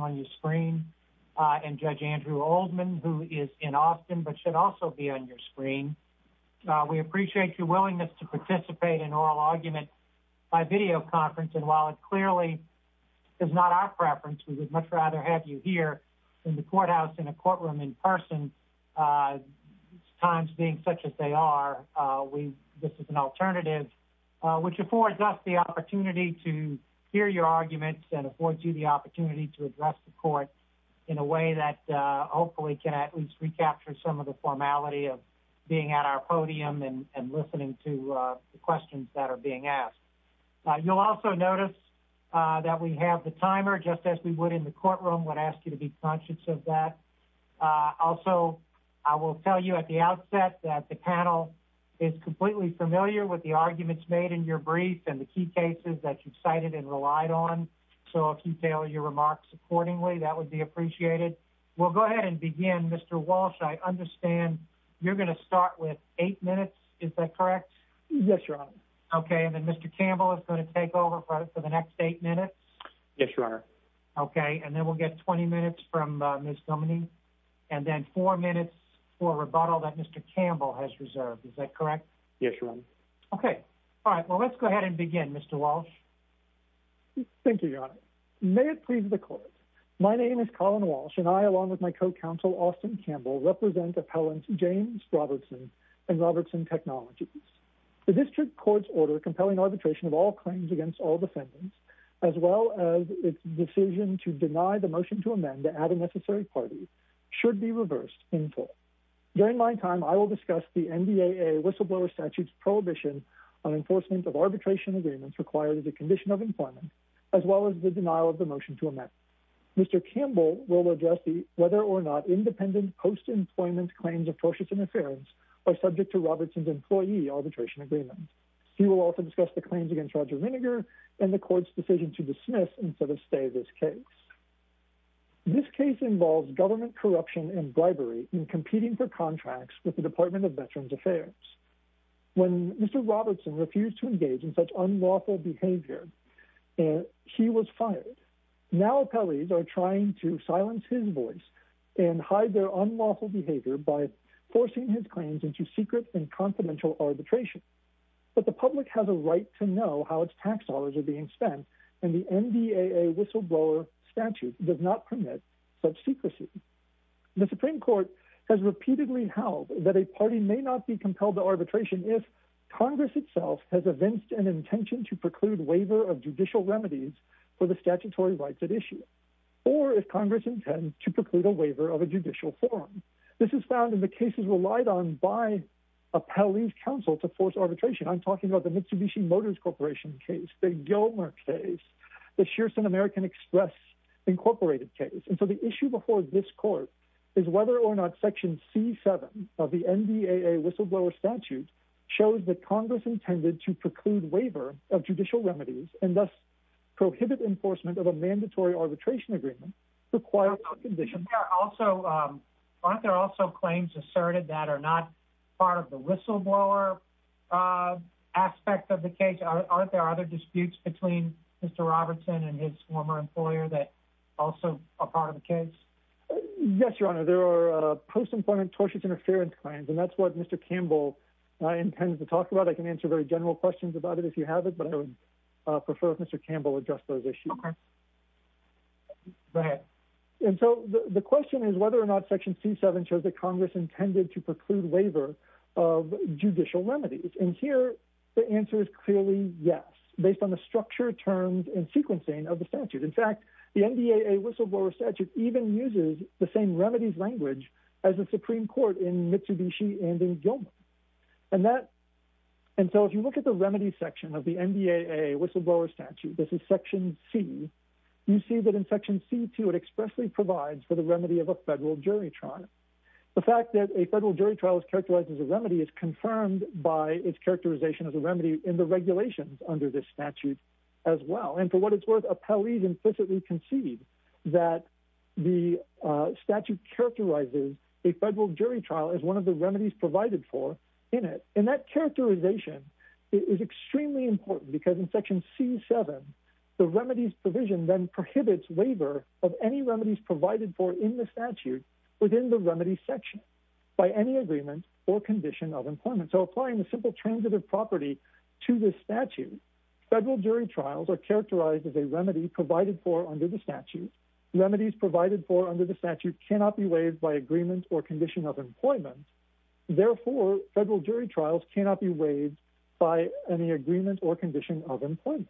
on your screen, and Judge Andrew Oldman, who is in Austin but should also be on your screen. We appreciate your willingness to participate in oral argument by videoconference, and while it clearly is not our preference, we would much rather have you here in the courthouse in a courtroom in person, times being such as they are, this is an alternative which affords us the opportunity to hear your arguments and affords you the opportunity to address the court in a way that hopefully can at least recapture some of the formality of being at our podium and listening to the questions that are being asked. You'll also notice that we have the timer just as we would in the courtroom, would ask you to be conscious of that. Also, I will tell you at the outset that the panel is completely familiar with the arguments made in your brief and the key cases that you've cited and relied on, so if you tailor your remarks accordingly, that would be appreciated. We'll go ahead and begin. Mr. Walsh, I understand you're going to start with eight minutes, is that correct? Yes, Your Honor. Okay, and then Mr. Campbell is going to take over for the next eight minutes. Yes, Your Honor. Okay, and then we'll get 20 minutes from Ms. Dominey, and then four minutes for rebuttal that Mr. Campbell has reserved, is that correct? Yes, Your Honor. Okay, all right, let's go ahead and begin, Mr. Walsh. Thank you, Your Honor. May it please the court, my name is Colin Walsh, and I, along with my co-counsel Austin Campbell, represent appellants James Robertson and Robertson Technologies. The district court's order compelling arbitration of all claims against all defendants, as well as its decision to deny the motion to amend to add a necessary party, should be reversed in full. During my time, I will discuss the NDAA whistleblower statute's enforcement of arbitration agreements required as a condition of employment, as well as the denial of the motion to amend. Mr. Campbell will address whether or not independent post-employment claims of tortious interference are subject to Robertson's employee arbitration agreement. He will also discuss the claims against Roger Rinegar and the court's decision to dismiss instead of stay this case. This case involves government corruption and bribery in competing for contracts with the Department of Veterans Affairs. When Mr. Robertson refused to engage in such unlawful behavior, he was fired. Now, appellees are trying to silence his voice and hide their unlawful behavior by forcing his claims into secret and confidential arbitration. But the public has a right to know how its tax dollars are being spent, and the NDAA whistleblower statute does not permit such secrecy. The Supreme Court has repeatedly held that a party may not be compelled to arbitration if Congress itself has evinced an intention to preclude waiver of judicial remedies for the statutory rights at issue, or if Congress intend to preclude a waiver of a judicial forum. This is found in the cases relied on by appellees' counsel to force arbitration. I'm talking about the Mitsubishi Motors Corporation case, the Gilmer case, the Shearson American Express, Incorporated case. And so the issue before this court is whether or not Section C7 of the NDAA whistleblower statute shows that Congress intended to preclude waiver of judicial remedies and thus prohibit enforcement of a mandatory arbitration agreement requires no condition. Aren't there also claims asserted that are not part of the whistleblower aspect of the case? Aren't there other disputes between Mr. Robertson and his former employer that also are part of the case? Yes, Your Honor. There are post-employment tortious interference claims, and that's what Mr. Campbell intends to talk about. I can answer very general questions about it if you have it, but I would prefer if Mr. Campbell addressed those issues. Okay. Go ahead. And so the question is whether or not Section C7 shows that Congress intended to And here the answer is clearly yes, based on the structure, terms, and sequencing of the statute. In fact, the NDAA whistleblower statute even uses the same remedies language as the Supreme Court in Mitsubishi and in Gilmer. And so if you look at the remedy section of the NDAA whistleblower statute, this is Section C, you see that in Section C2 it expressly provides for the remedy of a federal jury trial. The fact that a federal jury trial is characterized as a remedy is confirmed by its characterization as a remedy in the regulations under this statute as well. And for what it's worth, appellees implicitly concede that the statute characterizes a federal jury trial as one of the remedies provided for in it. And that characterization is extremely important because in Section C7, the remedies provision then prohibits waiver of any remedies provided for in the statute within the remedy section by any agreement or condition of employment. So applying the simple transitive property to this statute, federal jury trials are characterized as a remedy provided for under the statute. Remedies provided for under the statute cannot be waived by agreement or condition of employment. Therefore, federal jury trials cannot be waived by any agreement or condition of employment.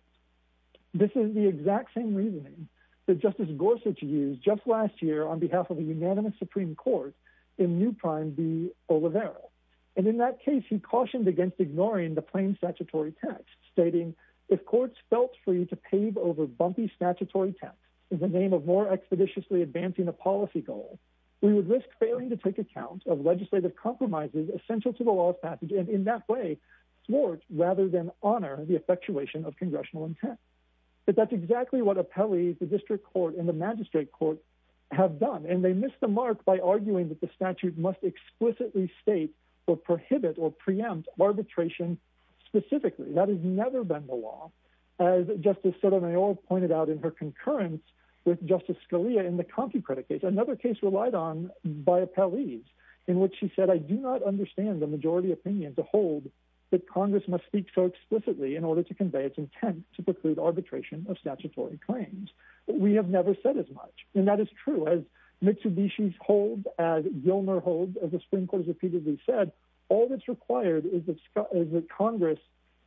This is the exact same reasoning that Justice Gorsuch used just last year on behalf of the unanimous Supreme Court in New Prime v. Oliveira. And in that case, he cautioned against ignoring the plain statutory text, stating, if courts felt free to pave over bumpy statutory text in the name of more expeditiously advancing a policy goal, we would risk failing to take account of legislative compromises essential to the law's passage, and in that way, thwart rather than honor the effectuation of congressional intent. But that's exactly what appellees, the district court, and the magistrate court have done, and they missed the mark by arguing that the statute must explicitly state or prohibit or preempt arbitration specifically. That has never been the law. As Justice Sotomayor pointed out in her concurrence with Justice Scalia in the CompuCredit case, another case relied on by appellees, in which she said, I do not understand the majority opinion to hold that Congress must speak so explicitly in order to convey its intent to preclude arbitration of Mitsubishi's hold, as Gilmer holds, as the Supreme Court has repeatedly said, all that's required is that Congress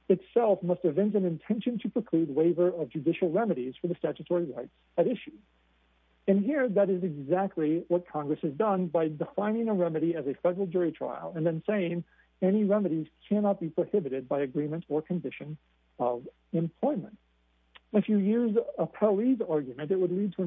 itself must invent an intention to preclude waiver of judicial remedies for the statutory rights at issue. And here, that is exactly what Congress has done by defining a remedy as a federal jury trial and then saying any remedies cannot be prohibited by agreement or condition of employment. If you use appellee's argument, it would lead to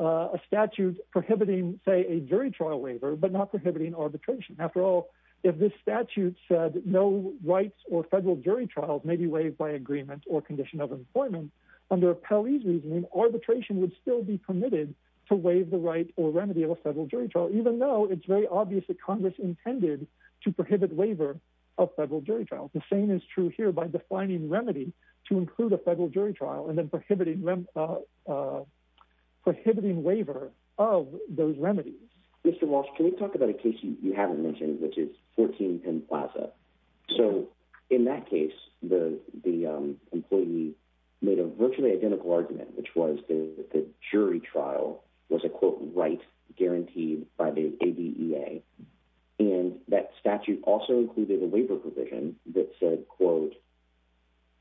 a statute prohibiting, say, a jury trial waiver, but not prohibiting arbitration. After all, if this statute said no rights or federal jury trials may be waived by agreement or condition of employment, under appellee's reasoning, arbitration would still be permitted to waive the right or remedy of a federal jury trial, even though it's very obvious that Congress intended to prohibit waiver of federal jury trials. The same is true here by defining remedy to include a federal jury trial and then prohibiting waiver of those remedies. Mr. Walsh, can we talk about a case you haven't mentioned, which is 14 Penn Plaza? So in that case, the employee made a virtually identical argument, which was the jury trial was a, quote, right guaranteed by the ADEA. And that statute also included a waiver provision that said, quote,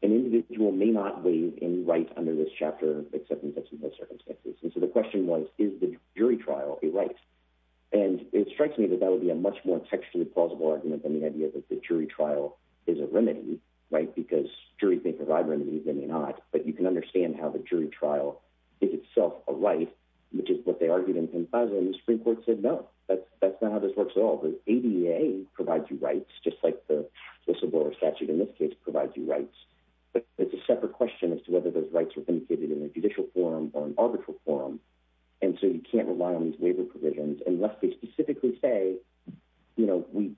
an individual may not waive any right under this chapter, except in such and such circumstances. And so the question was, is the jury trial a right? And it strikes me that that would be a much more textually plausible argument than the idea that the jury trial is a remedy, right? Because juries may provide remedies, they may not, but you can understand how the jury trial is itself a right, which is what they argued in Penn Plaza. And the Supreme Court said, no, that's not how this works at all. The ADEA provides you rights, just like the statute in this case provides you rights. But it's a separate question as to whether those rights were indicated in a judicial forum or an arbitral forum. And so you can't rely on these waiver provisions unless they specifically say, you know, we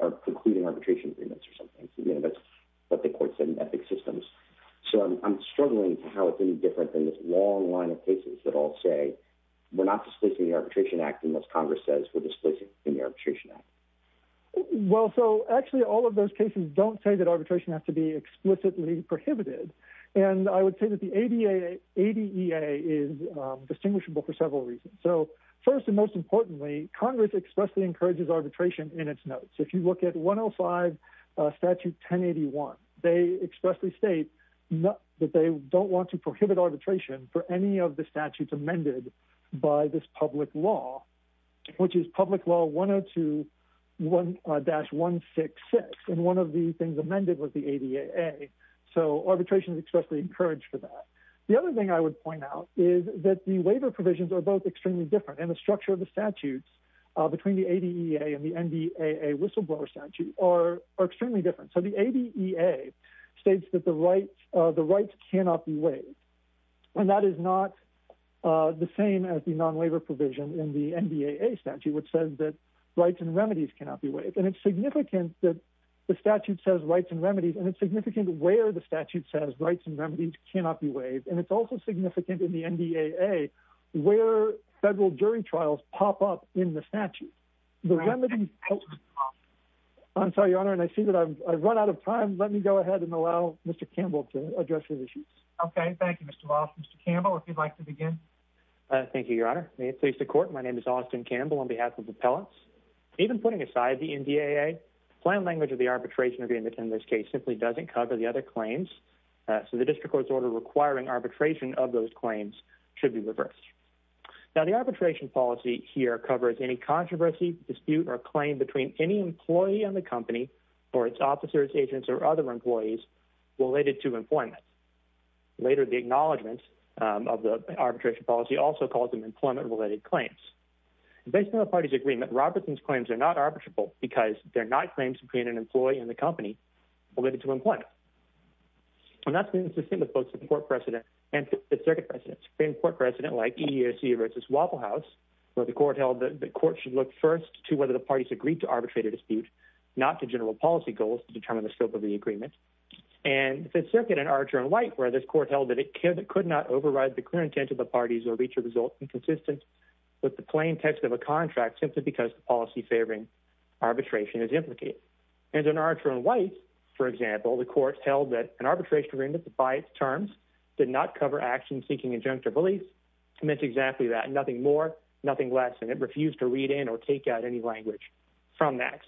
are concluding arbitration agreements or something. That's what the court said in Ethics Systems. So I'm struggling to how it's any different than this long line of cases that all say, we're not displacing the Arbitration Act unless Congress says we're Well, so actually all of those cases don't say that arbitration has to be explicitly prohibited. And I would say that the ADEA is distinguishable for several reasons. So first and most importantly, Congress expressly encourages arbitration in its notes. If you look at 105 Statute 1081, they expressly state that they don't want to prohibit arbitration for any of the statutes by this public law, which is Public Law 102-166. And one of the things amended was the ADEA. So arbitration is expressly encouraged for that. The other thing I would point out is that the waiver provisions are both extremely different. And the structure of the statutes between the ADEA and the NDAA whistleblower statute are extremely different. So the ADEA states that the rights cannot be waived. And that is not the same as the non-waiver provision in the NDAA statute, which says that rights and remedies cannot be waived. And it's significant that the statute says rights and remedies, and it's significant where the statute says rights and remedies cannot be waived. And it's also significant in the NDAA where federal jury trials pop up in the statute. I'm sorry, Your Honor, and I see that I've run out of time. Let me go ahead and allow Mr. Campbell to address your issues. Okay. Thank you, Mr. Walsh. Mr. Campbell, if you'd like to begin. Thank you, Your Honor. May it please the Court. My name is Austin Campbell on behalf of the appellants. Even putting aside the NDAA, the plain language of the arbitration agreement in this case simply doesn't cover the other claims. So the district court's order requiring arbitration of those claims should be reversed. Now, the arbitration policy here covers any controversy, dispute, or claim between any employee and the company or its officers, agents, or other employees related to employment. Later, the acknowledgment of the arbitration policy also calls them employment-related claims. Based on the party's agreement, Robertson's claims are not arbitrable because they're not claims between an employee and the company related to employment. And that's been the same with both the court precedent and the circuit precedent. In court like EEOC v. Waffle House, where the court held that the court should look first to whether the parties agreed to arbitrate a dispute, not to general policy goals to determine the scope of the agreement. And the circuit in Archer v. White, where this court held that it could not override the clear intent of the parties or reach a result inconsistent with the plain text of a contract simply because the policy favoring arbitration is implicated. And in Archer v. White, for example, the court held that an arbitration agreement by its terms did not cover actions seeking injunctive release. It meant exactly that. Nothing more, nothing less. And it refused to read in or take out any language from that.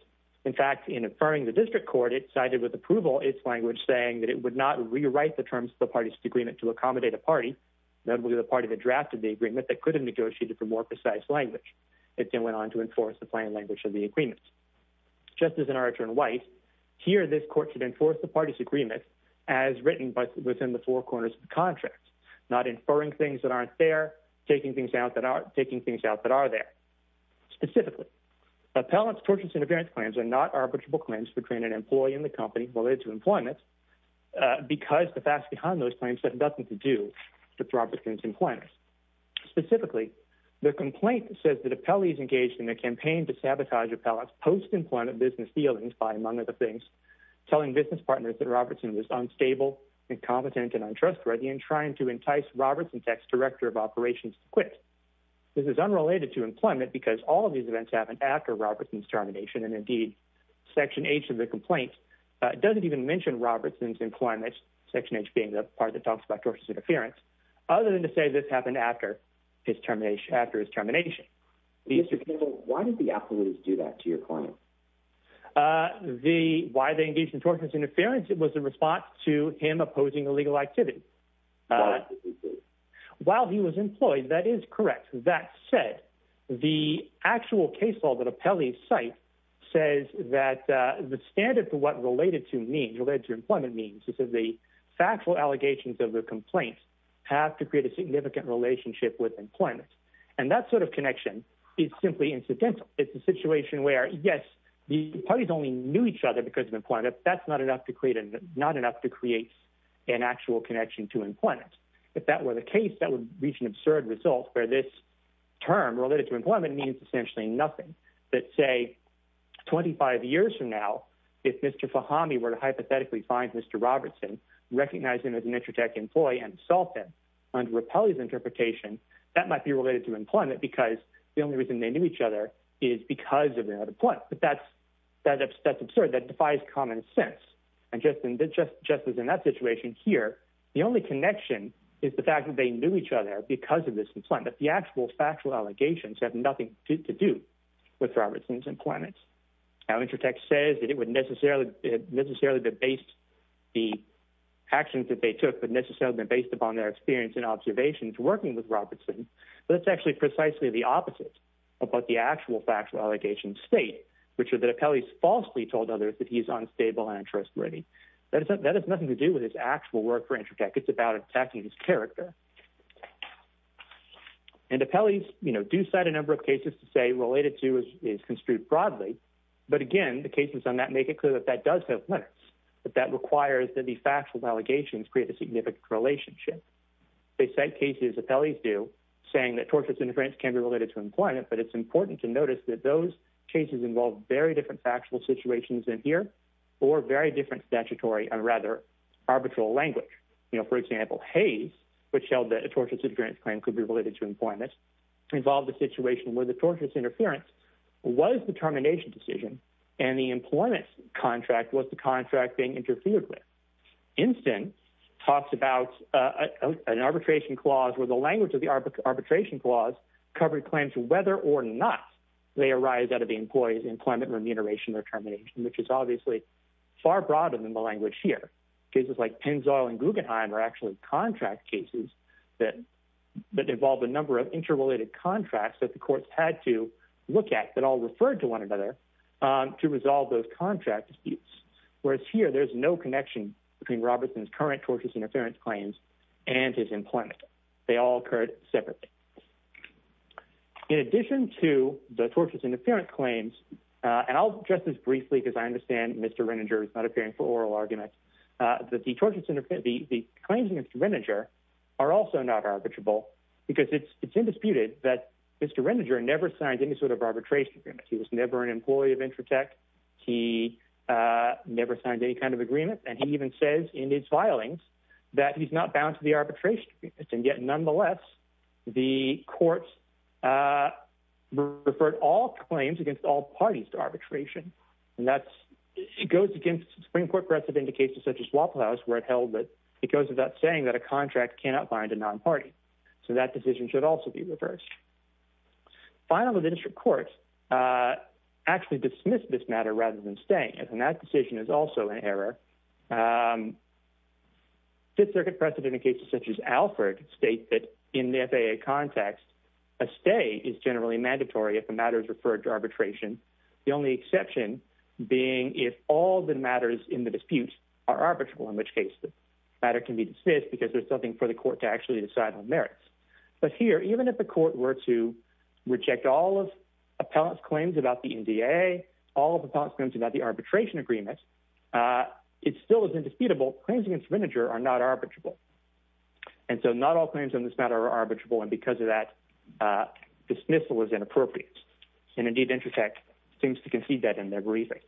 In fact, in inferring the district court, it sided with approval its language saying that it would not rewrite the terms of the party's agreement to accommodate a party, notably the party that drafted the agreement, that could have negotiated for more precise language. It then went on to enforce the plain language of the agreements. Just as in Archer v. White, here this court should enforce the party's agreement as written within the four corners of the contract, not inferring things that aren't there, taking things out that are there. Specifically, appellants' tortious interference claims are not arbitrable claims between an employee and the company related to employment because the facts behind those claims have nothing to do with Robertson's employment. Specifically, the complaint says that appellees engaged in a campaign to sabotage appellants' post-employment business dealings by, among other things, telling business partners that it's unstable, incompetent, and untrustworthy, and trying to entice Robertson's ex-director of operations to quit. This is unrelated to employment because all of these events happened after Robertson's termination, and indeed, Section H of the complaint doesn't even mention Robertson's employment, Section H being the part that talks about tortious interference, other than to say this happened after his termination. Mr. Kimball, why did the appellants do that to your client? Why they engaged in tortious interference was in response to him opposing illegal activity. While he was employed, that is correct. That said, the actual case law that appellees cite says that the standard for what related to means, related to employment means, is that the factual allegations of the complaints have to create a significant relationship with employment, and that sort of connection is simply incidental. It's a situation where, yes, the parties only knew each other because of employment, but that's not enough to create an actual connection to employment. If that were the case, that would reach an absurd result, where this term, related to employment, means essentially nothing. That, say, 25 years from now, if Mr. Fahami were to hypothetically find Mr. Robertson, recognize him as an Intratec employee, and assault him under appellee's interpretation, that might be related to employment because the only reason they knew each other is because of their employment. But that's absurd. That defies common sense. And just as in that situation here, the only connection is the fact that they knew each other because of this employment. The actual factual allegations have nothing to do with Robertson's employment. Now, Intratec says that it would necessarily have been based, the actions that they took would necessarily have been based upon their experience and the actual factual allegations state, which are that appellees falsely told others that he's unstable and untrustworthy. That has nothing to do with his actual work for Intratec. It's about attacking his character. And appellees, you know, do cite a number of cases to say related to is construed broadly. But again, the cases on that make it clear that that does have limits, that that requires that the factual allegations create a significant relationship. They cite cases appellees do, saying that tortious interference can be related to employment, but it's important to notice that those cases involve very different factual situations in here or very different statutory and rather arbitral language. You know, for example, Hays, which held that a tortious interference claim could be related to employment, involved a situation where the tortious interference was the termination decision and the employment contract was the contract being interfered with. Instin talks about an arbitration clause where the language of the arbitration clause covered claims whether or not they arise out of the employee's employment remuneration or termination, which is obviously far broader than the language here. Cases like Pennzoil and Guggenheim are actually contract cases that involve a number of interrelated contracts that the courts had to look at that all referred to one another to resolve those contract disputes. Whereas here, there's no connection between Robertson's current tortious interference claims and his employment. They all occurred separately. In addition to the tortious interference claims, and I'll address this briefly because I understand Mr. Reniger is not appearing for oral arguments, that the claims against Reniger are also not arbitrable because it's undisputed that Mr. Reniger never signed any sort of arbitration agreement. He was never an employee of Intratec. He never signed any kind of agreement and he even says in his filings that he's not bound to the arbitration. And yet nonetheless, the courts referred all claims against all parties to arbitration. And that goes against Supreme Court aggressive indications such as Waffle House where it goes without saying that a contract cannot bind a non-party. So that decision should also be reversed. Finally, the district courts actually dismiss this matter rather than staying. And that decision is also an error. Fifth Circuit precedent in cases such as Alford state that in the FAA context, a stay is generally mandatory if the matter is referred to arbitration. The only exception being if all the matters in the dispute are arbitrable, in which case the matter can be dismissed because there's nothing for the court to actually decide on merits. But here, even if the court were to reject all of appellant's claims about the NDA, all of the appellant's claims about the arbitration agreement, it still is indisputable. Claims against Reniger are not arbitrable. And so not all claims on this matter are arbitrable. And because of that, dismissal is inappropriate. And indeed, Intratec seems to concede that in their briefing.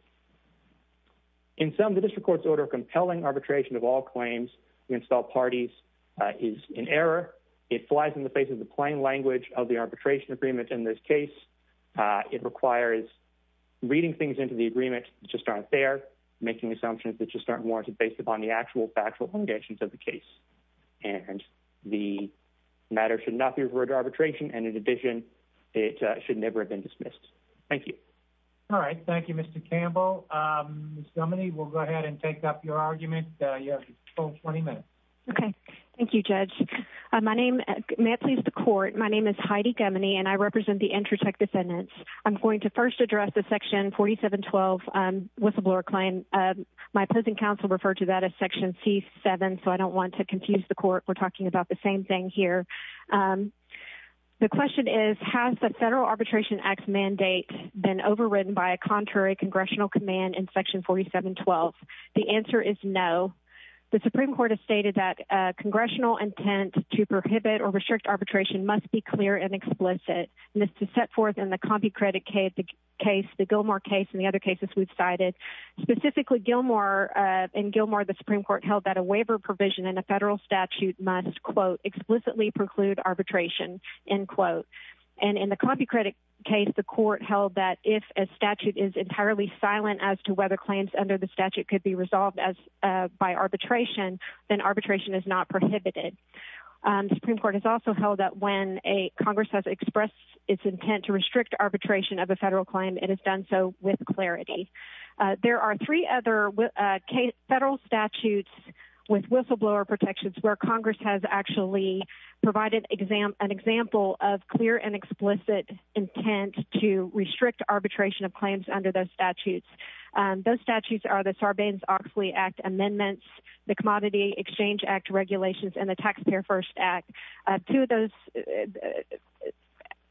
In sum, the district court's order of compelling arbitration of all claims against all parties is an error. It flies in the face of the plain language of the arbitration agreement in this case. It requires reading things into the agreement that just aren't there, making assumptions that just aren't warranted based upon the actual factual conditions of the case. And the matter should not be referred to arbitration. And in addition, it should never have been dismissed. Thank you. All right. Thank you, Mr. Campbell. Ms. Gemini, we'll go ahead and take up your argument. You have a full 20 minutes. Okay. Thank you, Judge. May it please the court, my name is Heidi Gemini, and I represent the Intratec defendants. I'm going to first address the section 4712 whistleblower claim. My opposing counsel referred to that as section C7, so I don't want to confuse the court. We're talking about the same thing here. The question is, has the Federal Arbitration Act mandate been overridden by a contrary congressional command in section 4712? The answer is no. The Supreme Court has stated that congressional intent to prohibit or restrict arbitration must be clear and explicit. And this is set forth in the CompuCredit case, the Gilmore case, and the other cases we've cited. Specifically, in Gilmore, the Supreme Court held that a waiver provision in a federal statute must, quote, explicitly preclude arbitration, end quote. And in the CompuCredit case, the court held that if a statute is entirely silent as to whether claims under the statute could be resolved by arbitration, then arbitration is not prohibited. The Supreme Court has also held that when Congress has expressed its intent to restrict arbitration of a federal claim, it has done so with clarity. There are three other federal statutes with whistleblower protections where Congress has actually provided an example of clear and explicit intent to restrict arbitration of claims under those statutes. Those statutes are the Sarbanes-Oxley Act amendments, the Commodity Exchange Act regulations, and the Taxpayer First Act. Two of those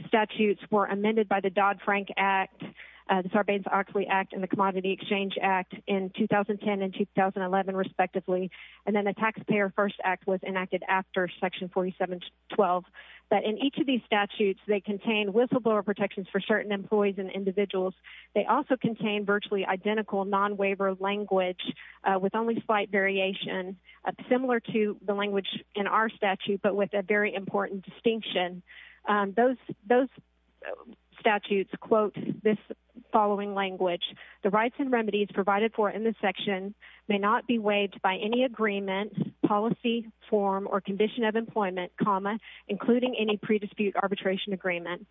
statutes were amended by the Dodd-Frank Act, the Sarbanes-Oxley Act, and the Commodity Exchange Act in 2010 and 2011, respectively. And then the Taxpayer First Act was enacted after section 4712. But in each of these statutes, they contain whistleblower protections for certain employees and individuals. They also contain virtually identical non-waiver language with only slight variation, similar to the language in our statute, but with a very important distinction. Those statutes quote this following language. The rights and remedies provided for in this section may not be waived by any agreement, policy, form, or condition of employment, comma, including any pre-dispute arbitration agreement.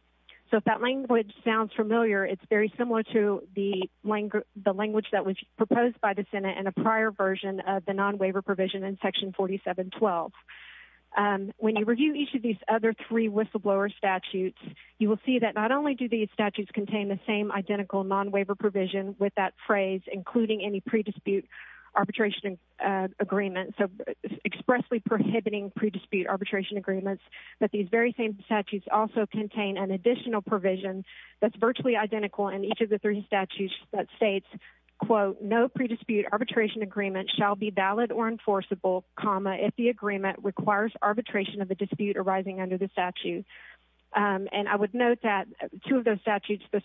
So if that language sounds familiar, it's very similar to the language that was proposed by the Senate in a prior version of the non-waiver provision in section 4712. When you review each of these other three whistleblower statutes, you will see that not only do these statutes contain the same identical non-waiver provision with that phrase, including any pre-dispute arbitration agreement, so expressly prohibiting pre-dispute arbitration agreements, but these very same statutes also contain an additional provision that's virtually identical in each of the three statutes that states, quote, no pre-dispute arbitration agreement shall be valid or enforceable, comma, if the agreement requires arbitration of the dispute arising under the statute. And I would note that two of those statutes, the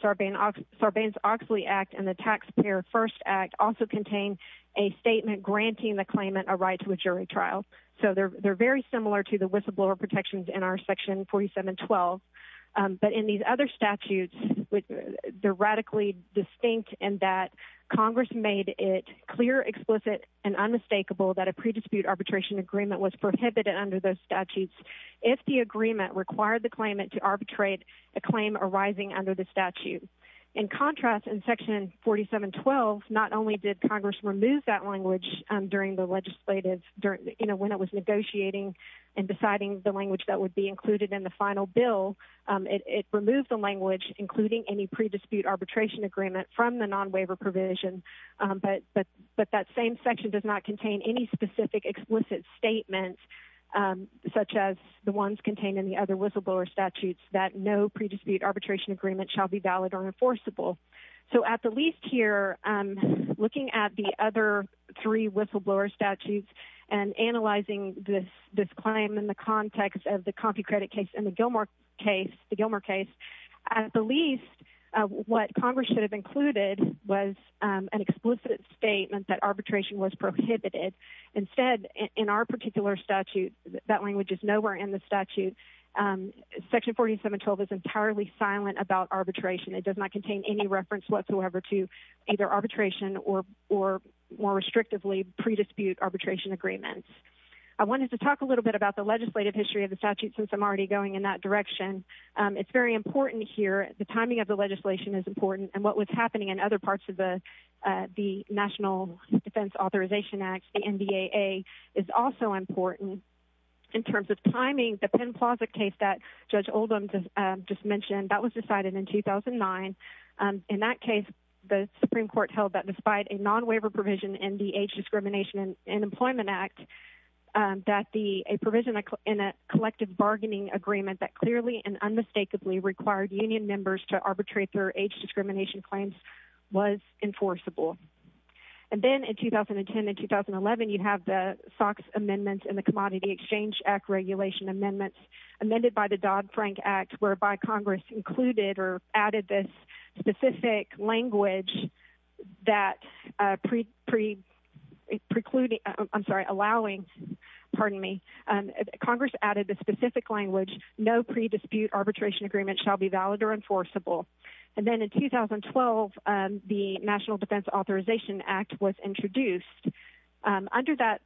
Sarbanes-Oxley Act and the Taxpayer First Act also contain a statement granting the trial. So they're very similar to the whistleblower protections in our section 4712. But in these other statutes, they're radically distinct in that Congress made it clear, explicit, and unmistakable that a pre-dispute arbitration agreement was prohibited under those statutes if the agreement required the claimant to arbitrate a claim arising under the statute. In contrast, in section 4712, not only did Congress remove that language during the legislative, you know, when it was negotiating and deciding the language that would be included in the final bill, it removed the language including any pre-dispute arbitration agreement from the non-waiver provision, but that same section does not contain any specific explicit statements, such as the ones contained in the other whistleblower statutes, that no pre-dispute arbitration agreement shall be valid or enforceable. So at the least here, looking at the other three statutes and analyzing this claim in the context of the CompuCredit case and the Gilmore case, the Gilmore case, at the least what Congress should have included was an explicit statement that arbitration was prohibited. Instead, in our particular statute, that language is nowhere in the statute. Section 4712 is entirely silent about arbitration. It does not contain any reference whatsoever to either arbitration or more restrictively pre-dispute arbitration agreements. I wanted to talk a little bit about the legislative history of the statute since I'm already going in that direction. It's very important here, the timing of the legislation is important, and what was happening in other parts of the National Defense Authorization Act, the NDAA, is also important. In terms of timing, the Penn Plaza case that Judge Oldham just mentioned, that was decided in 2009. In that case, the Supreme Court held that despite a non-waiver provision in the Age Discrimination and Employment Act, that a provision in a collective bargaining agreement that clearly and unmistakably required union members to arbitrate their age discrimination claims was enforceable. And then in 2010 and 2011, you have the SOX amendments and the Commodity Exchange Act regulation amendments, amended by the Dodd-Frank Act, whereby Congress included or added this specific language that precluding, I'm sorry, allowing, pardon me, Congress added the specific language, no pre-dispute arbitration agreement shall be valid or enforceable. And then in 2012, the National Defense Authorization Act was introduced. Under that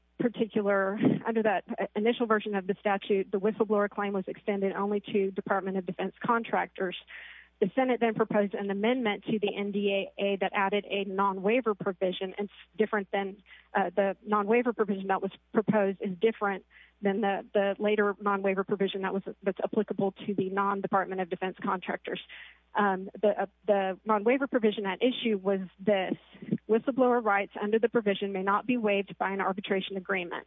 version of the statute, the whistleblower claim was extended only to Department of Defense contractors. The Senate then proposed an amendment to the NDAA that added a non-waiver provision, and the non-waiver provision that was proposed is different than the later non-waiver provision that's applicable to the non-Department of Defense contractors. The non-waiver provision at issue was this, whistleblower rights under the provision may not be waived by an arbitration agreement.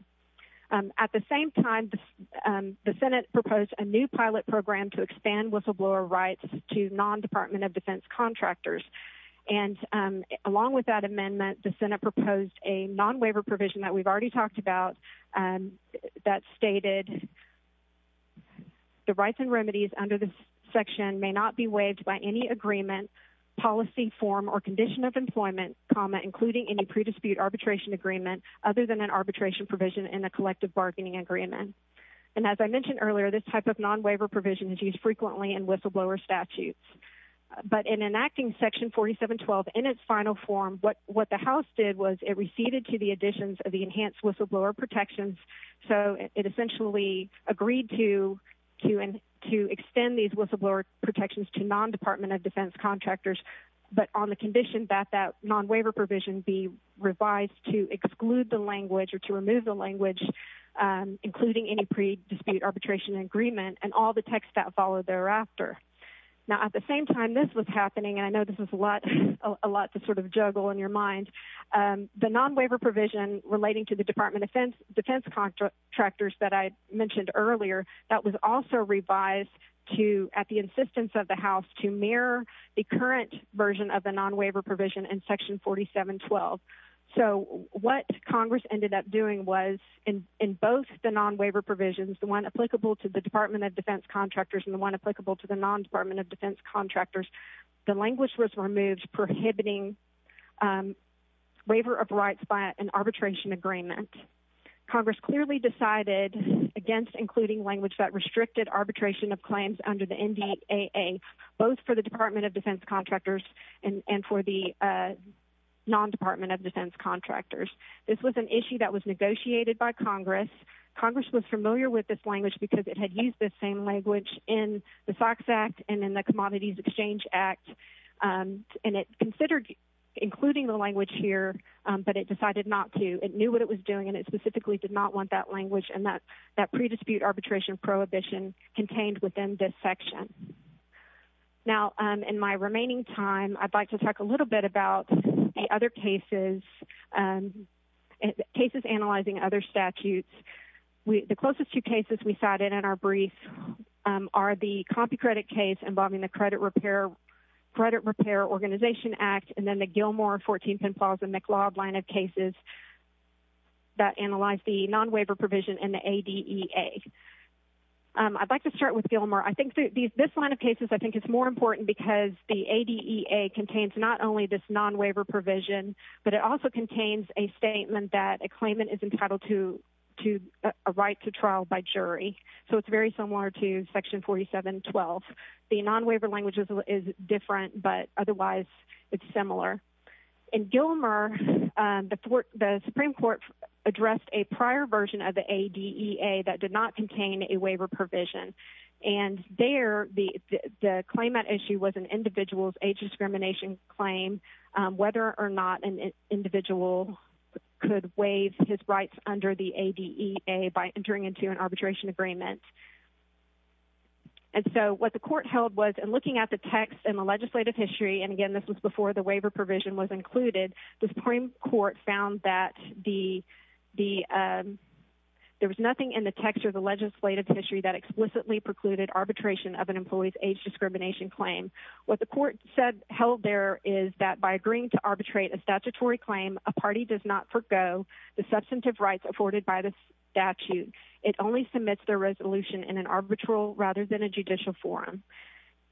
At the same time, the Senate proposed a new pilot program to expand whistleblower rights to non-Department of Defense contractors. And along with that amendment, the Senate proposed a non-waiver provision that we've already talked about that stated the rights and remedies under this section may not be waived by any agreement, policy form, or condition of employment, including any pre-dispute arbitration agreement, other than an arbitration provision in a collective bargaining agreement. And as I mentioned earlier, this type of non-waiver provision is used frequently in whistleblower statutes. But in enacting Section 4712 in its final form, what the House did was it receded to the additions of the enhanced whistleblower protections. So it essentially agreed to extend these whistleblower protections to non-Department of Defense contractors, but on the condition that that non-waiver provision be revised to exclude the language or to remove the language, including any pre-dispute arbitration agreement and all the text that followed thereafter. Now, at the same time this was happening, and I know this is a lot to sort of juggle in your mind, the non-waiver provision relating to the Department of Defense contractors that I mentioned earlier, that was also revised at the insistence of the House to mirror the current version of the non-waiver provision in Section 4712. So what Congress ended up doing was in both the non-waiver provisions, the one applicable to the Department of Defense contractors and the one applicable to the non-Department of Defense contractors, the language was removed prohibiting waiver of rights by an arbitration agreement. Congress clearly decided against including language that restricted arbitration of claims under the NDAA, both for the Department of Defense contractors and for the non-Department of Defense contractors. This was an issue that was negotiated by Congress. Congress was familiar with this language because it had used this same language in the SOX Act and in the Commodities Exchange Act, and it considered including the language here, but it decided not to. It knew what it was doing and it specifically did not want that language and that pre-dispute arbitration prohibition contained within this section. Now, in my remaining time, I'd like to talk a little bit about the other cases, cases analyzing other statutes. The closest two cases we cited in our brief are the copy credit case involving the Credit Repair Organization Act and then the Gilmore, 14th and Plaza McLeod line of cases that analyze the non-waiver provision in the ADEA. I'd like to start with Gilmore. I think this line of cases, I think it's more important because the ADEA contains not only this non-waiver provision, but it also contains a statement that a claimant is entitled to a right to trial by jury. So it's very similar to Section 4712. The non-waiver language is different, but otherwise it's similar. In Gilmore, the Supreme Court addressed a prior version of the ADEA that did not contain a waiver provision. And there, the claimant issue was an individual's age discrimination claim, whether or not an individual could waive his rights under the ADEA by entering into an arbitration agreement. And so what the court held was in looking at the text and the legislative history, and again, this was before the waiver provision was included, the Supreme Court found that there was nothing in the text or the legislative history that explicitly precluded arbitration of an employee's age discrimination claim. What the court held there is that by agreeing to arbitrate a statutory claim, a party does not forgo the substantive rights afforded by the statute. It only submits their resolution in an arbitral rather than a judicial forum.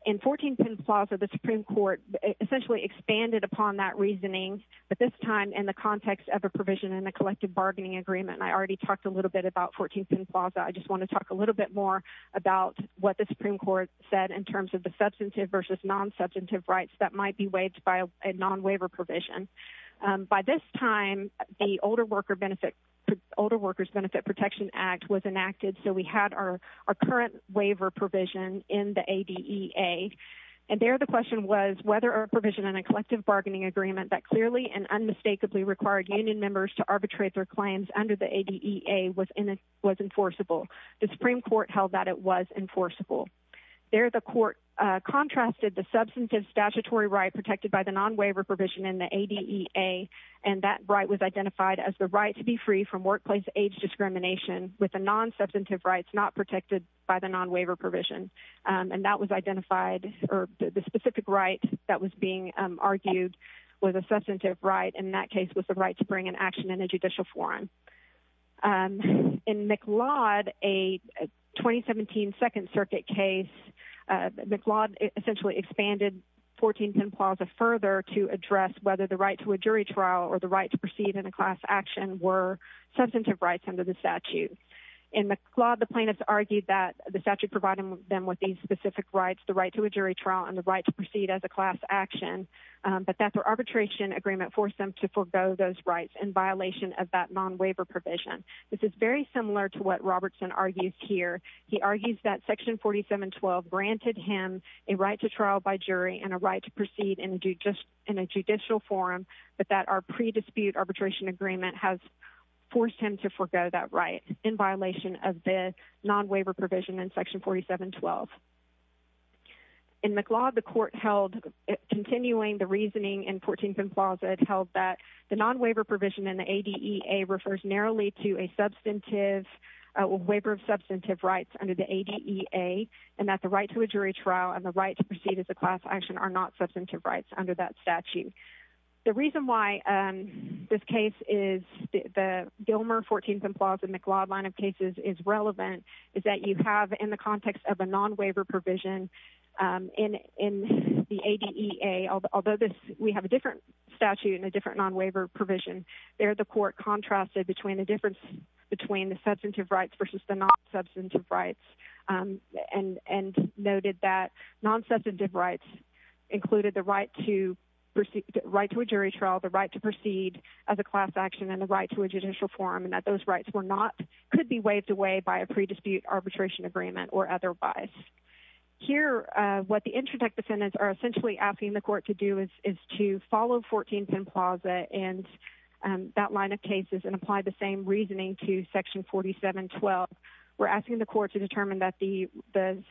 In 14th and Plaza, the Supreme Court essentially expanded upon that reasoning, but this time in the context of a provision in the collective bargaining agreement, and I already talked a little bit about 14th and Plaza. I just want to talk a little bit more about what the Supreme Court said in terms of the substantive versus non-substantive rights that might be waived by a non-waiver provision. By this time, the Older Workers Benefit Protection Act was enacted, so we had our current waiver provision in the ADEA. And there, the question was whether a provision in a collective bargaining agreement that clearly and unmistakably required union members to arbitrate their claims under the ADEA was enforceable. The Supreme Court held that it was enforceable. There, the court contrasted the substantive statutory right protected by the non-waiver provision in the ADEA, and that right was identified as the right to be free from with the non-substantive rights not protected by the non-waiver provision. And that was identified, or the specific right that was being argued was a substantive right, and that case was the right to bring an action in a judicial forum. In McLeod, a 2017 Second Circuit case, McLeod essentially expanded 14th and Plaza further to address whether the right to a jury trial or right to proceed in a class action were substantive rights under the statute. In McLeod, the plaintiffs argued that the statute provided them with these specific rights, the right to a jury trial and the right to proceed as a class action, but that their arbitration agreement forced them to forgo those rights in violation of that non-waiver provision. This is very similar to what Robertson argues here. He argues that Section 4712 granted him a right to trial by jury and a right to proceed in a judicial forum, but that our pre-dispute arbitration agreement has forced him to forgo that right in violation of the non-waiver provision in Section 4712. In McLeod, the court held, continuing the reasoning in 14th and Plaza, it held that the non-waiver provision in the ADEA refers narrowly to a substantive waiver of substantive rights under the ADEA, and that the right to a jury trial and the right to proceed as a class action are not substantive rights under that statute. The reason why this case is the Gilmer 14th and Plaza McLeod line of cases is relevant is that you have in the context of a non-waiver provision in the ADEA, although this, we have a different statute and a different non-waiver provision, there the court contrasted between the difference between the substantive rights versus the non-substantive rights, and noted that non-substantive rights included the right to a jury trial, the right to proceed as a class action, and the right to a judicial forum, and that those rights were not, could be waived away by a pre-dispute arbitration agreement or otherwise. Here, what the interdict defendants are essentially asking the court to do is to follow 14th and Plaza and that line of cases and apply the same reasoning to Section 4712. We're asking the court to determine that the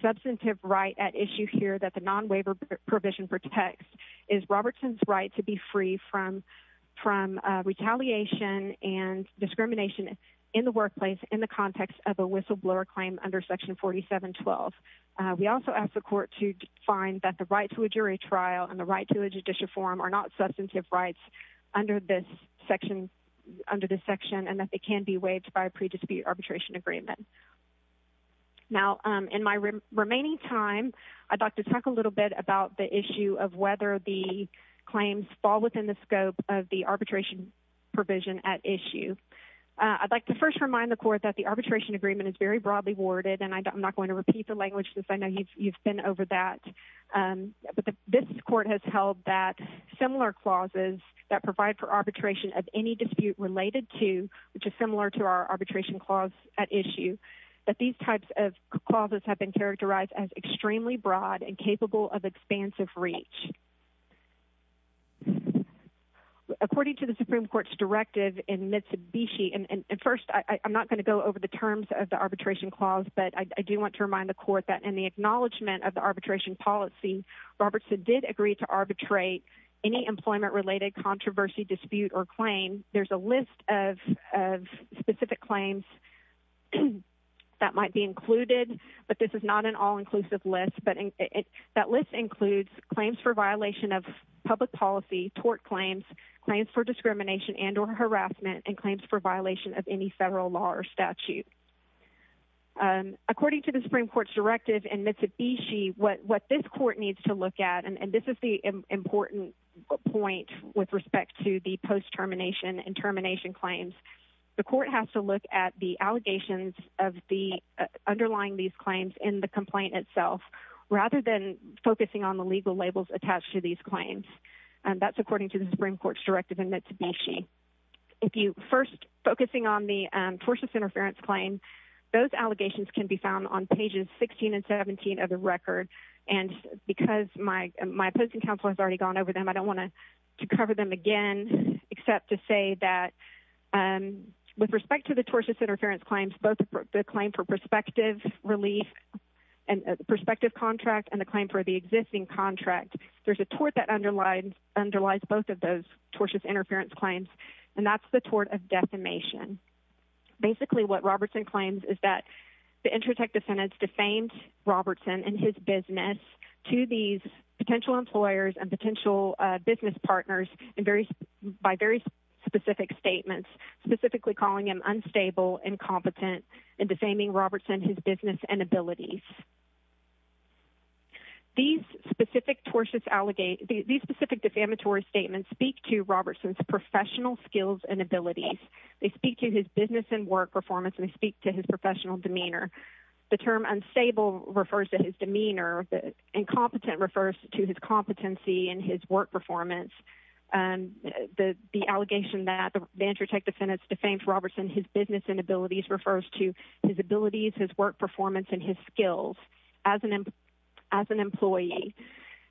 substantive right at issue here that the non-waiver provision protects is Robertson's right to be free from retaliation and discrimination in the workplace in the context of a whistleblower claim under Section 4712. We also ask the court to find that the right to a jury trial and the right to a judicial forum are not substantive rights under this section and that they can be waived by a pre-dispute arbitration agreement. Now, in my remaining time, I'd like to talk a little bit about the issue of whether the claims fall within the scope of the arbitration provision at issue. I'd like to first remind the court that the arbitration agreement is very broadly worded, and I'm not going to repeat the language since I know you've been over that, but this court has held that similar clauses that provide for arbitration of any dispute related to, which is similar to our arbitration clause at issue, that these types of clauses have been characterized as extremely broad and capable of expansive reach. According to the Supreme Court's directive in Mitsubishi, and first, I'm not going to go over the terms of the arbitration clause, but I do want to remind the court that in the acknowledgement of the arbitration policy, Robertson did agree to arbitrate any employment-related controversy, dispute, or claim. There's a list of specific claims that might be included, but this is not an all-inclusive list, but that list includes claims for violation of public policy, tort claims, claims for discrimination and or harassment, and claims for violation of any federal law or statute. According to the Supreme Court's directive in Mitsubishi, the court has to look at the allegations of the underlying these claims in the complaint itself rather than focusing on the legal labels attached to these claims. That's according to the Supreme Court's directive in Mitsubishi. If you first focusing on the tortious interference claim, those allegations can be found on pages 16 and 17 of the record, and because my opposing counsel has already gone over them, I don't want to cover them again except to say that with respect to the tortious interference claims, both the claim for prospective relief and the prospective contract and the claim for the existing contract, there's a tort that underlies both of those tortious interference claims, and that's the tort of defamation. Basically, what Robertson claims is that intratech defendants defamed Robertson and his business to these potential employers and potential business partners by very specific statements, specifically calling him unstable, incompetent, and defaming Robertson, his business and abilities. These specific defamatory statements speak to Robertson's professional skills and abilities. They speak to his business and work performance, and they speak to his professional demeanor. The term unstable refers to his demeanor. Incompetent refers to his competency and his work performance. The allegation that the intratech defendants defamed Robertson, his business and abilities, refers to his abilities, his work performance, and his skills as an employee.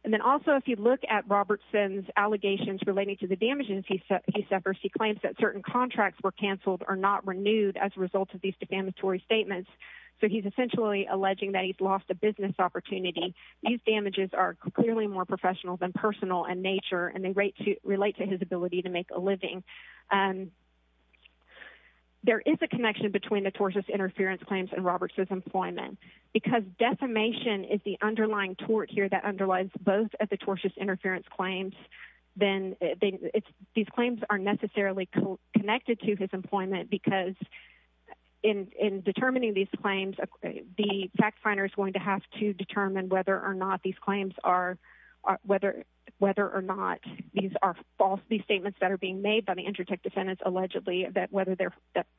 Then also, if you look at Robertson's allegations relating to the contracts were canceled or not renewed as a result of these defamatory statements, so he's essentially alleging that he's lost a business opportunity. These damages are clearly more professional than personal in nature, and they relate to his ability to make a living. There is a connection between the tortious interference claims and Robertson's employment. Because defamation is the underlying tort here that underlies both of the tortious connected to his employment, because in determining these claims, the fact finder is going to have to determine whether or not these claims are, whether or not these are false, these statements that are being made by the intratech defendants allegedly that whether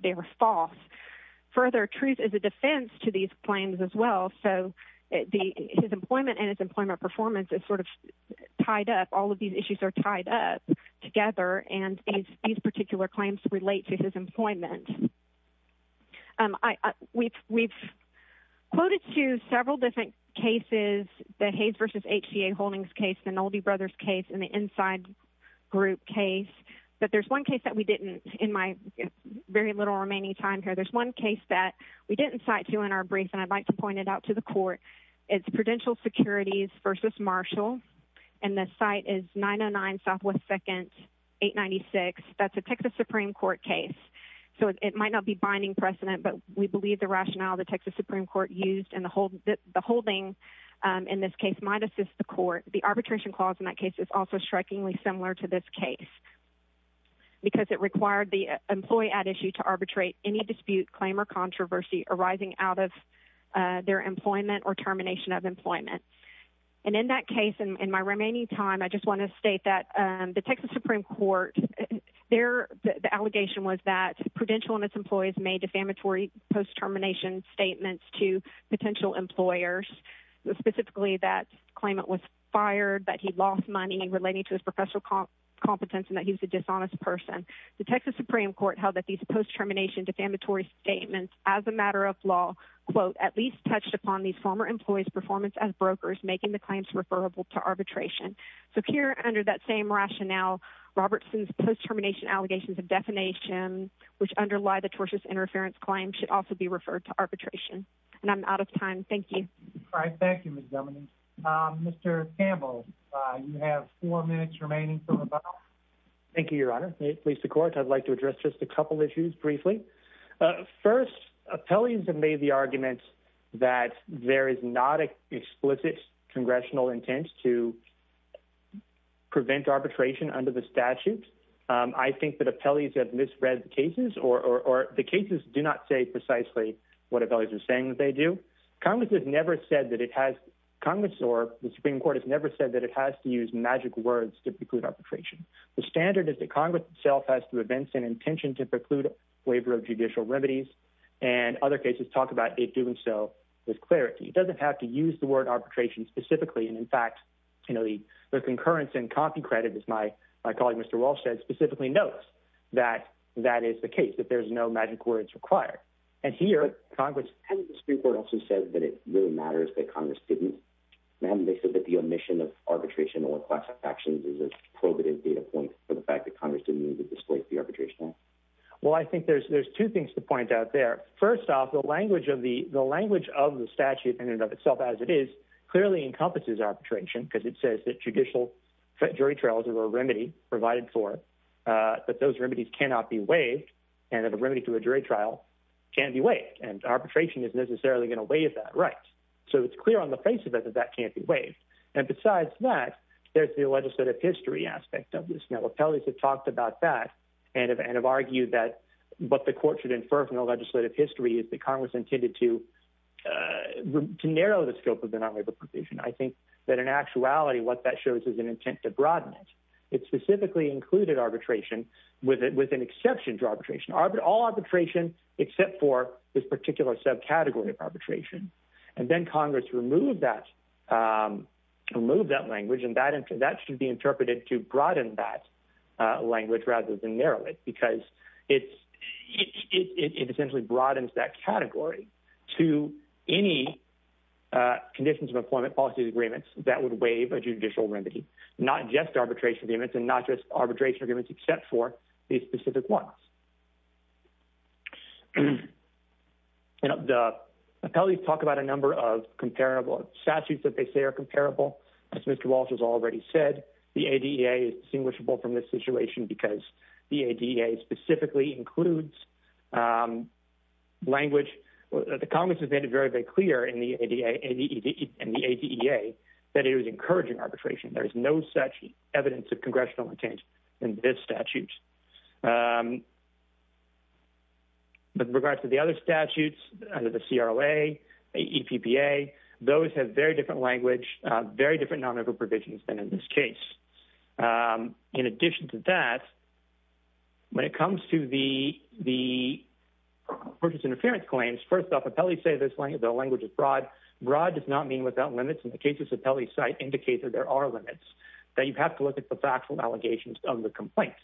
they were false. Further, truth is a defense to these claims as well. His employment and his employment performance is sort of tied up. All of these issues are tied up together, and these particular claims relate to his employment. We've quoted to several different cases, the Hayes versus HGA Holdings case, the Nolde Brothers case, and the Inside Group case, but there's one case that we didn't, in my very little remaining time here, there's one case that we didn't cite to in our brief, and I'd like to point it out to the court. It's Prudential Securities versus Marshall, and the site is 909 Southwest 2nd, 896. That's a Texas Supreme Court case, so it might not be binding precedent, but we believe the rationale the Texas Supreme Court used and the holding in this case might assist the court. The arbitration clause in that case is also strikingly similar to this case, because it required the employee at issue to arbitrate any dispute, claim, or controversy arising out of their employment or termination of employment, and in that case, in my remaining time, I just want to state that the Texas Supreme Court, the allegation was that Prudential and its employees made defamatory post-termination statements to potential employers, specifically that claimant was fired, that he lost money relating to his professional competence, and that he was a dishonest person. The Texas Supreme Court held that these post-termination defamatory statements as a matter of law, quote, at least touched upon these former employees' performance as brokers, making the claims referable to arbitration. So here, under that same rationale, Robertson's post-termination allegations of defamation, which underlie the tortious interference claim, should also be referred to arbitration, and I'm out of time. Thank you. All right. Thank you, Ms. Dominguez. Mr. Campbell, you have four minutes remaining. Thank you, Your Honor. May it please the Court, I'd like to address just a couple issues briefly. First, appellees have made the argument that there is not an explicit congressional intent to prevent arbitration under the statute. I think that appellees have misread the cases, or the cases do not say precisely what appellees are saying that they do. Congress has never said that Congress or the Supreme Court has never said that it has to use magic words to preclude arbitration. The standard is that Congress itself has to advance an intention to preclude waiver of judicial remedies, and other cases talk about it doing so with clarity. It doesn't have to use the word arbitration specifically, and in fact, the concurrence and copy credit, as my colleague Mr. Walsh said, specifically notes that that is the case, that there's no magic words required. Hasn't the Supreme Court also said that it really matters that Congress didn't mandate that the omission of arbitration or class actions is a probative data point for the fact that Congress didn't need to displace the arbitration act? Well, I think there's two things to point out there. First off, the language of the statute in and of itself as it is clearly encompasses arbitration, because it says that judicial jury trials are a remedy provided for, but those remedies cannot be waived, and a remedy to a jury trial can be waived, and arbitration isn't necessarily going to waive that right. So it's clear on the face of it that that can't be waived. And besides that, there's the legislative history aspect of this. Now, appellees have talked about that and have argued that what the court should infer from the legislative history is that Congress intended to narrow the scope of the non-waivable provision. I think that in actuality, what that shows is an intent to broaden it. It specifically included arbitration with an exception to arbitration. All arbitration except for this particular subcategory of arbitration. And then Congress removed that language, and that should be interpreted to broaden that language rather than narrow it, because it essentially broadens that that would waive a judicial remedy, not just arbitration agreements and not just arbitration agreements except for these specific ones. The appellees talk about a number of comparable statutes that they say are comparable. As Mr. Walsh has already said, the ADEA is distinguishable from this situation because the ADEA specifically includes language. The Congress has made it very, very clear in the ADEA that it was encouraging arbitration. There is no such evidence of congressional intent in this statute. With regard to the other statutes under the CROA, the EPPA, those have very different language, very different non-waivable provisions than in this case. In addition to that, when it comes to the purchase interference claims, first off, appellees say the language is broad. Broad does not mean without limits, and the cases appellees cite indicate that there are limits, that you have to look at the factual allegations of the complaint.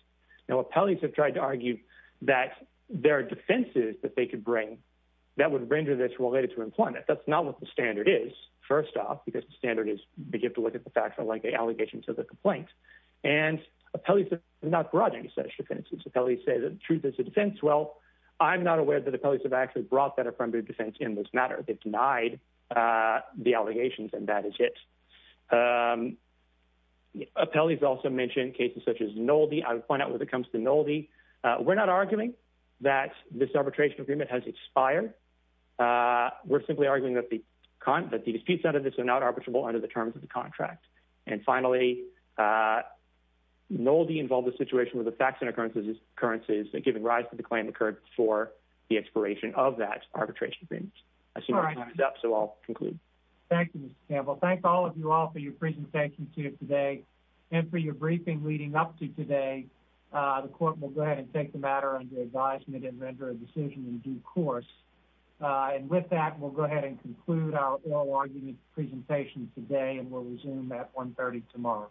Now, appellees have tried to argue that there are defenses that they could bring that would render this related to employment. That's not what the standard is, first off, because the standard is you have to look at the allegations of the complaint. Appellees have not brought any such defenses. Appellees say the truth is a defense. Well, I'm not aware that appellees have actually brought that affirmative defense in this matter. They've denied the allegations, and that is it. Appellees also mention cases such as Nolde. I'll point out when it comes to Nolde, we're not arguing that this arbitration agreement has expired. We're simply arguing that the disputes under this are not finalized. Finally, Nolde involved a situation where the facts and occurrences given rise to the claim occurred before the expiration of that arbitration agreement. I see my time is up, so I'll conclude. Thank you, Mr. Campbell. Thank all of you all for your presentation today and for your briefing leading up to today. The court will go ahead and take the matter under advisement and render a decision in due course. With that, we'll go ahead and conclude our oral presentation today, and we'll resume at 1 30 tomorrow.